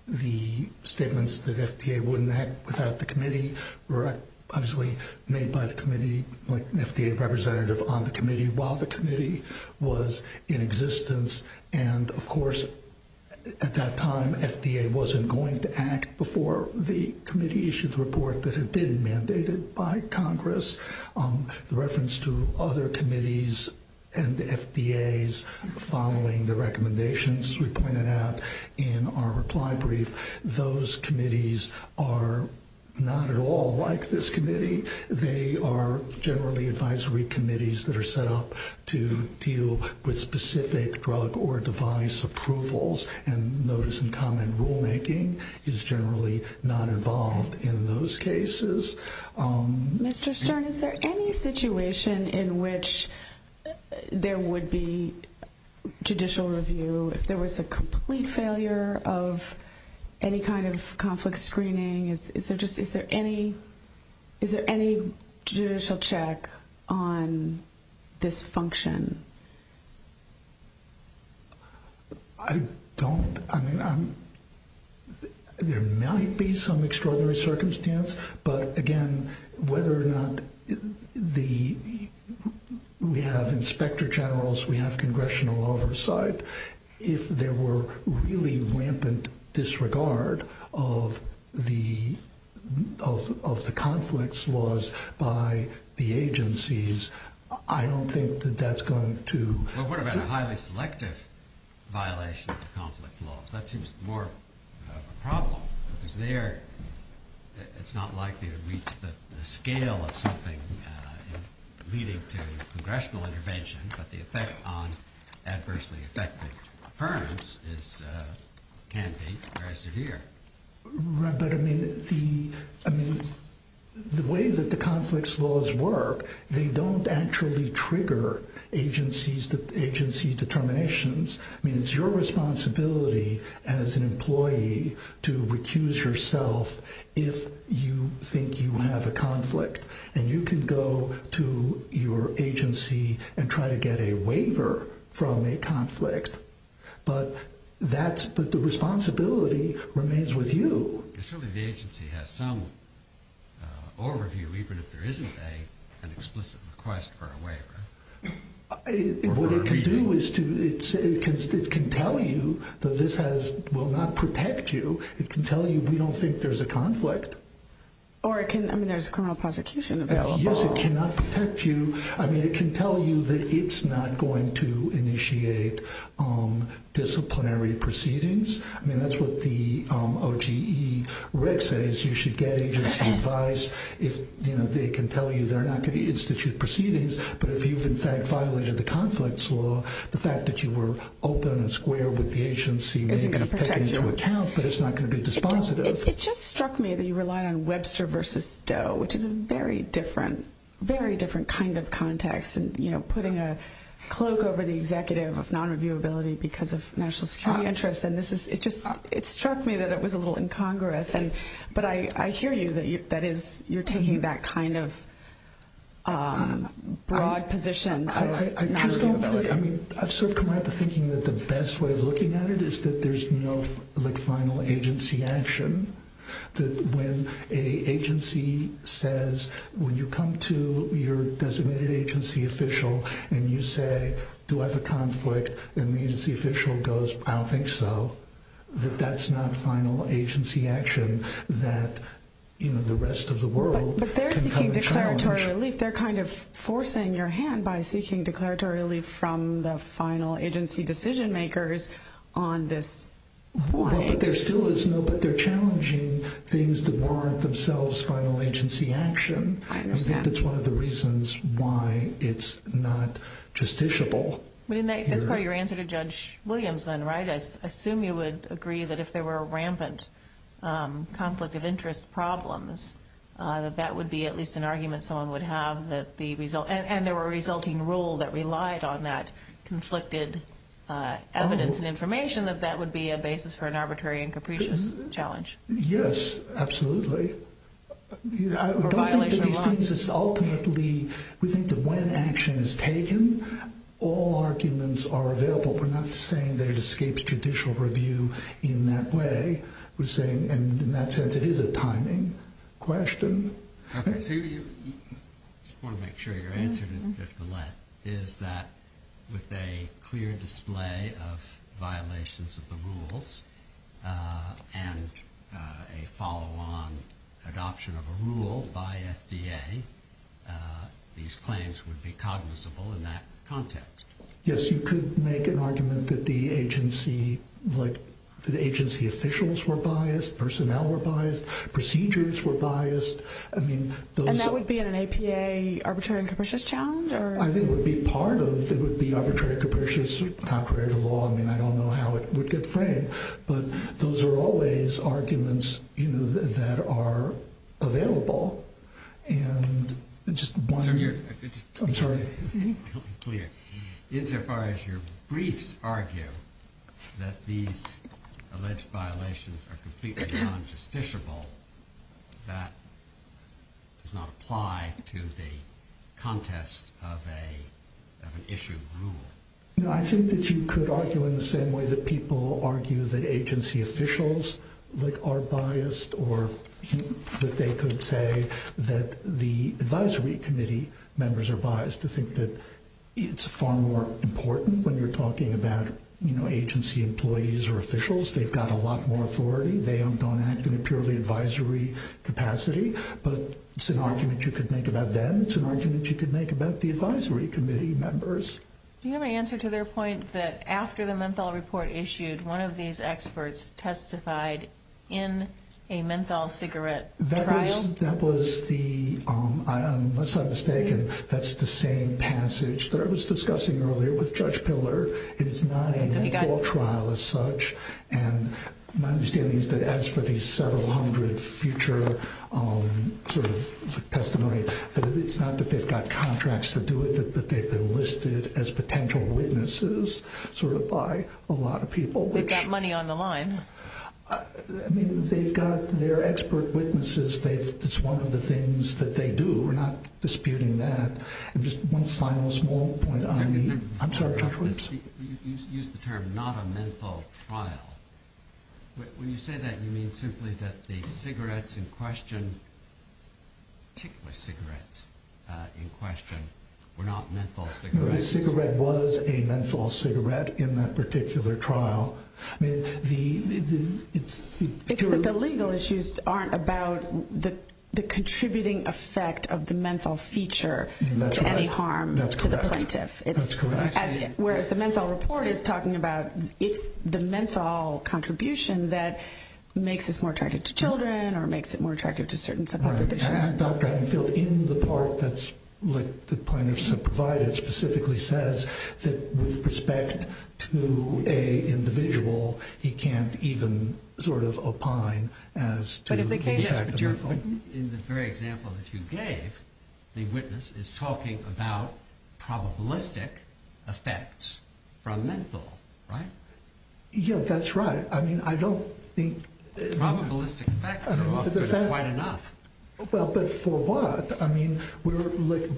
the statements that FDA wouldn't act without the committee were obviously made by the committee like an FDA representative on the committee while the committee was in existence and of course at that time FDA wasn't going to act before the committee issued the report that had been mandated by Congress the reference to other committees and FDA's following the recommendations we pointed out in our reply brief those committees are not at all like this committee they are generally advisory committees that are set up to deal with specific drug or device approvals and notice and comment rulemaking is generally not involved in those cases Mr. Stern is there any situation in which there would be judicial review if there was a complete failure of any kind of conflict screening is there any judicial check on this function I don't there might be some extraordinary circumstance but again whether or not we have inspector generals we have congressional oversight if there were really rampant disregard of the conflicts laws by the agencies I don't think that's going to what about a highly selective violation of the conflict laws that seems more of a problem it's not likely to reach the scale of something leading to congressional intervention but the effect on adversely affected firms can be very severe but I mean the way that the conflicts laws work they don't actually trigger agency determinations I mean it's your responsibility as an employee to recuse yourself if you think you have a conflict and you can go to your agency and try to get a waiver from a conflict but that's the responsibility remains with you the agency has some overview even if there isn't an explicit request for a waiver what it can do it can tell you that this has will not protect you it can tell you we don't think there's a conflict I mean there's criminal prosecution available yes it cannot protect you I mean it can tell you that it's not going to initiate disciplinary proceedings I mean that's what the OGE reg says you should get agency advice they can tell you they're not going to institute proceedings but if you've in fact violated the conflicts law the fact that you were open and square with the agency may be taken into account but it's not going to be dispositive it just struck me that you relied on Webster versus Stowe which is a very different very different kind of context putting a cloak over the executive of non-reviewability because of national security interests it just struck me that it was a little incongruous but I hear you that you're taking that kind of broad position I've sort of come out to thinking that the best way of looking at it is that there's no final agency action that when an agency says when you come to your designated agency official and you say do I have a conflict and the agency official goes I don't think so that that's not final agency action that the rest of the world can come and challenge they're kind of forcing your hand by seeking declaratory relief from the final agency decision makers on this point but there still is no but they're challenging things that warrant themselves final agency action that's one of the reasons why it's not justiciable that's part of your answer to Judge Williams then right I assume you would agree that if there were rampant conflict of interest problems that that would be at least an argument someone would have and there were a resulting rule that relied on that conflicted evidence and information that that would be a basis for an arbitrary and capricious challenge yes absolutely I don't think that these things ultimately we think that when action is taken all arguments are available we're not saying that it escapes judicial review in that way we're saying and in that sense it is a timing question okay so you want to make sure you're answering it Judge Millett is that with a clear display of violations of the rules and a follow on adoption of a rule by FDA these claims would be cognizable in that context yes you could make an argument that the agency like the agency officials were biased personnel were biased procedures were biased and that would be in an APA arbitrary and capricious challenge I think it would be part of it would be arbitrary and capricious contrary to law I mean I don't know how it would get framed but those are always arguments you know that are available and just I'm sorry insofar as your briefs argue that these alleged violations are completely non-justiciable that does not apply to the contest of an issue rule no I think that you could argue in the same way that people argue that agency officials like are biased or that they could say that the advisory committee members are biased to think that it's far more important when you're talking about you know agency employees or officials they've got a lot more authority they don't act in a purely advisory capacity but it's an argument you could make about them it's an argument you could make about the advisory committee members Do you have an answer to their point that after the menthol report issued one of these experts testified in a menthol cigarette trial? That was the unless I'm mistaken that's the same passage that I was discussing earlier with Judge Piller it's not a menthol trial as such and my understanding is that as for these several hundred future sort of testimony that it's not that they've got contracts to do it that they've been listed as potential witnesses sort of by a lot of people They've got money on the line I mean they've got their expert witnesses it's one of the things that they do we're not disputing that and just one final small point I'm sorry Judge You used the term not a menthol trial When you say that you mean simply that the cigarettes in question particular cigarettes in question were not menthol cigarettes The cigarette was a menthol cigarette in that particular trial It's that the legal issues aren't about the contributing effect of the menthol feature to any harm to the plaintiff That's correct Whereas the menthol report is talking about it's the menthol contribution that makes us more attracted to children or makes it more attractive to certain sub-prohibitions In the part that's the plaintiffs have provided specifically says that with respect to an individual he can't even sort of opine as to the effect of menthol In the very example that you gave the witness is talking about probabilistic effects from menthol Yeah that's right I don't think probabilistic effects are often quite enough But for what? I mean we're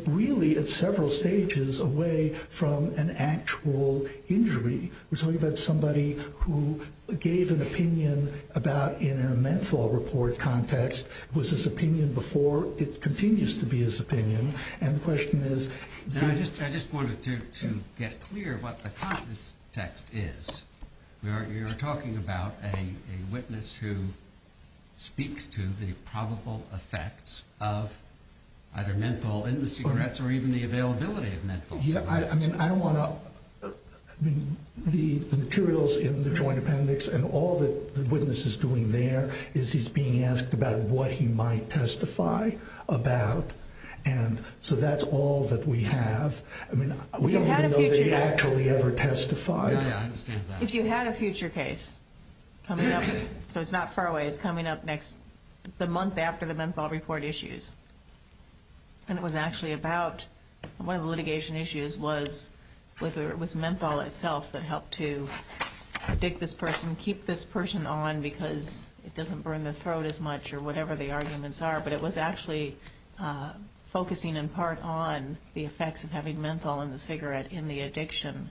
really at several stages away from an actual injury We're talking about somebody who gave an opinion about in a menthol report context was his opinion before it continues to be his opinion and the question is I just wanted to get clear what the context is You're talking about a witness who speaks to the probable effects of either menthol in the cigarettes or even the availability of menthol I don't want to the materials in the joint appendix and all that the witness is doing there is he's being asked about what he might testify about and so that's all that we have We don't even know if they actually ever testified If you had a future case coming up so it's not far away, it's coming up next the month after the menthol report issues and it was actually about one of the litigation issues was menthol itself that helped to predict this person, keep this person on because it doesn't burn the throat as much or whatever the arguments are, but it was actually focusing in part on the effects of having menthol in the cigarette in the addiction.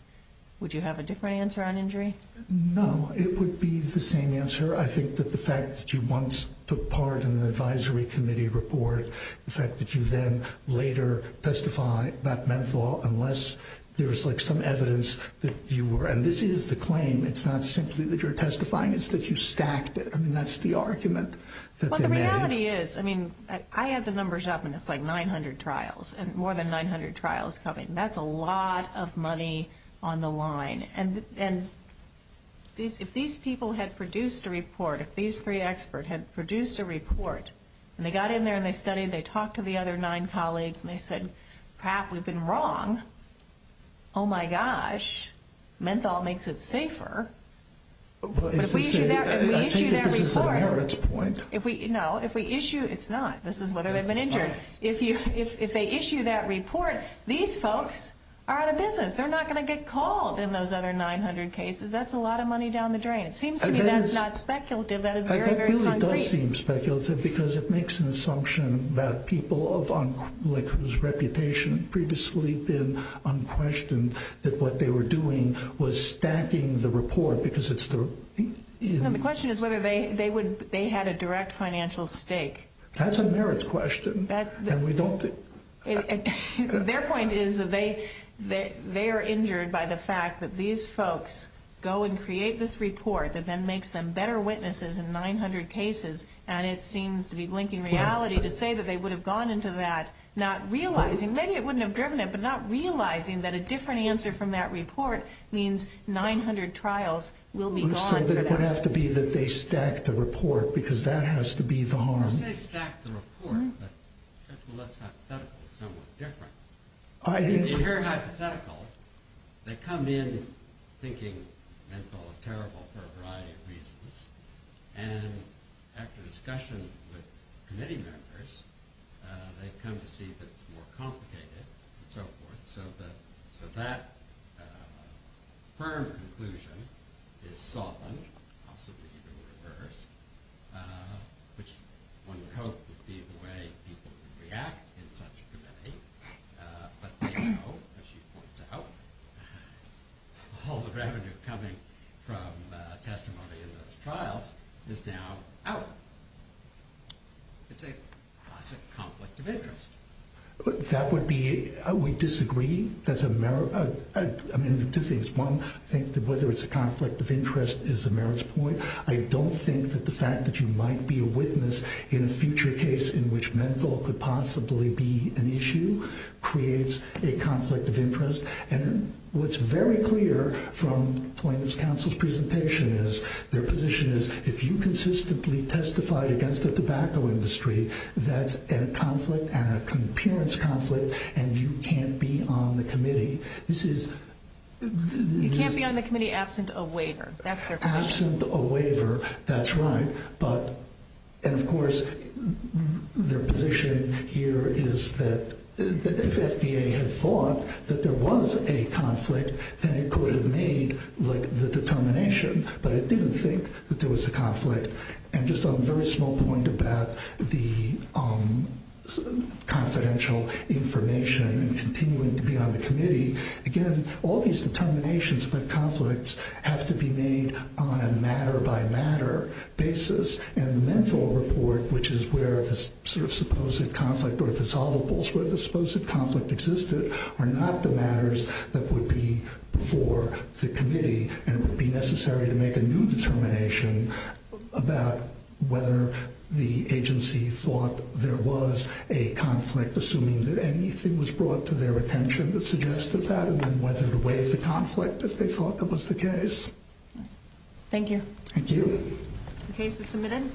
Would you have a different answer on injury? No, it would be the same answer I think that the fact that you once took part in an advisory committee report the fact that you then later testify about menthol unless there's like some evidence that you were, and this is the claim it's not simply that you're testifying it's that you stacked it, I mean that's the argument Well the reality is I have the numbers up and it's like 900 trials and more than 900 trials coming and that's a lot of money on the line and if these people had produced a report if these three experts had produced a report and they got in there and they studied they talked to the other nine colleagues and they said Pat, we've been wrong oh my gosh menthol makes it safer but if we issue that if we, no if we issue, it's not, this is whether they've been injured if they issue that report, these folks are out of business, they're not going to get called in those other 900 cases, that's a lot of money down the drain, it seems to me that's not speculative, that is very very concrete It does seem speculative because it makes an assumption that people of like whose reputation previously been unquestioned that what they were doing was stacking the report because it's the The question is whether they had a direct financial stake That's a merits question and we don't Their point is that they are injured by the fact that these folks go and create this report that then makes them better witnesses in 900 cases and it seems to be blinking reality to say that they would have gone into that not realizing, maybe it wouldn't have driven it but not realizing that a different answer from that report means 900 trials will be gone for that It would have to be that they stacked the report because that has to be the harm You say stacked the report but that's hypothetical, it's somewhat different In your hypothetical they come in thinking MENFOL is terrible for a variety of reasons and after discussion with committee members they come to see that it's more complicated and so forth so that that firm conclusion is softened, possibly even reversed which one would hope would be the way people would react in such a committee but now as she points out all the revenue coming from testimony in those trials is now out It's a classic conflict of interest That would be We disagree Two things One, whether it's a conflict of interest is a merits point I don't think that the fact that you might be a witness in a future case in which MENFOL could possibly be an issue creates a conflict of interest What's very clear from plaintiff's counsel's presentation is their position is if you consistently testified against the tobacco industry that's a conflict and an appearance conflict and you can't be on the committee this is You can't be on the committee absent a waiver Absent a waiver that's right and of course their position here is that if FDA had thought that there was a conflict then it could have made the determination but it didn't think that there was a conflict and just on a very small point about the confidential information and continuing to be on the committee again all these determinations but conflicts have to be made on a matter by matter basis and the MENFOL report which is where the supposed conflict or the solvables where the supposed conflict existed are not the matters that would be for the committee and would be necessary to make a new determination about whether the agency thought there was a conflict assuming that anything was brought to their attention that suggested that and then whether to waive the conflict if they thought that was the case Thank you The case is submitted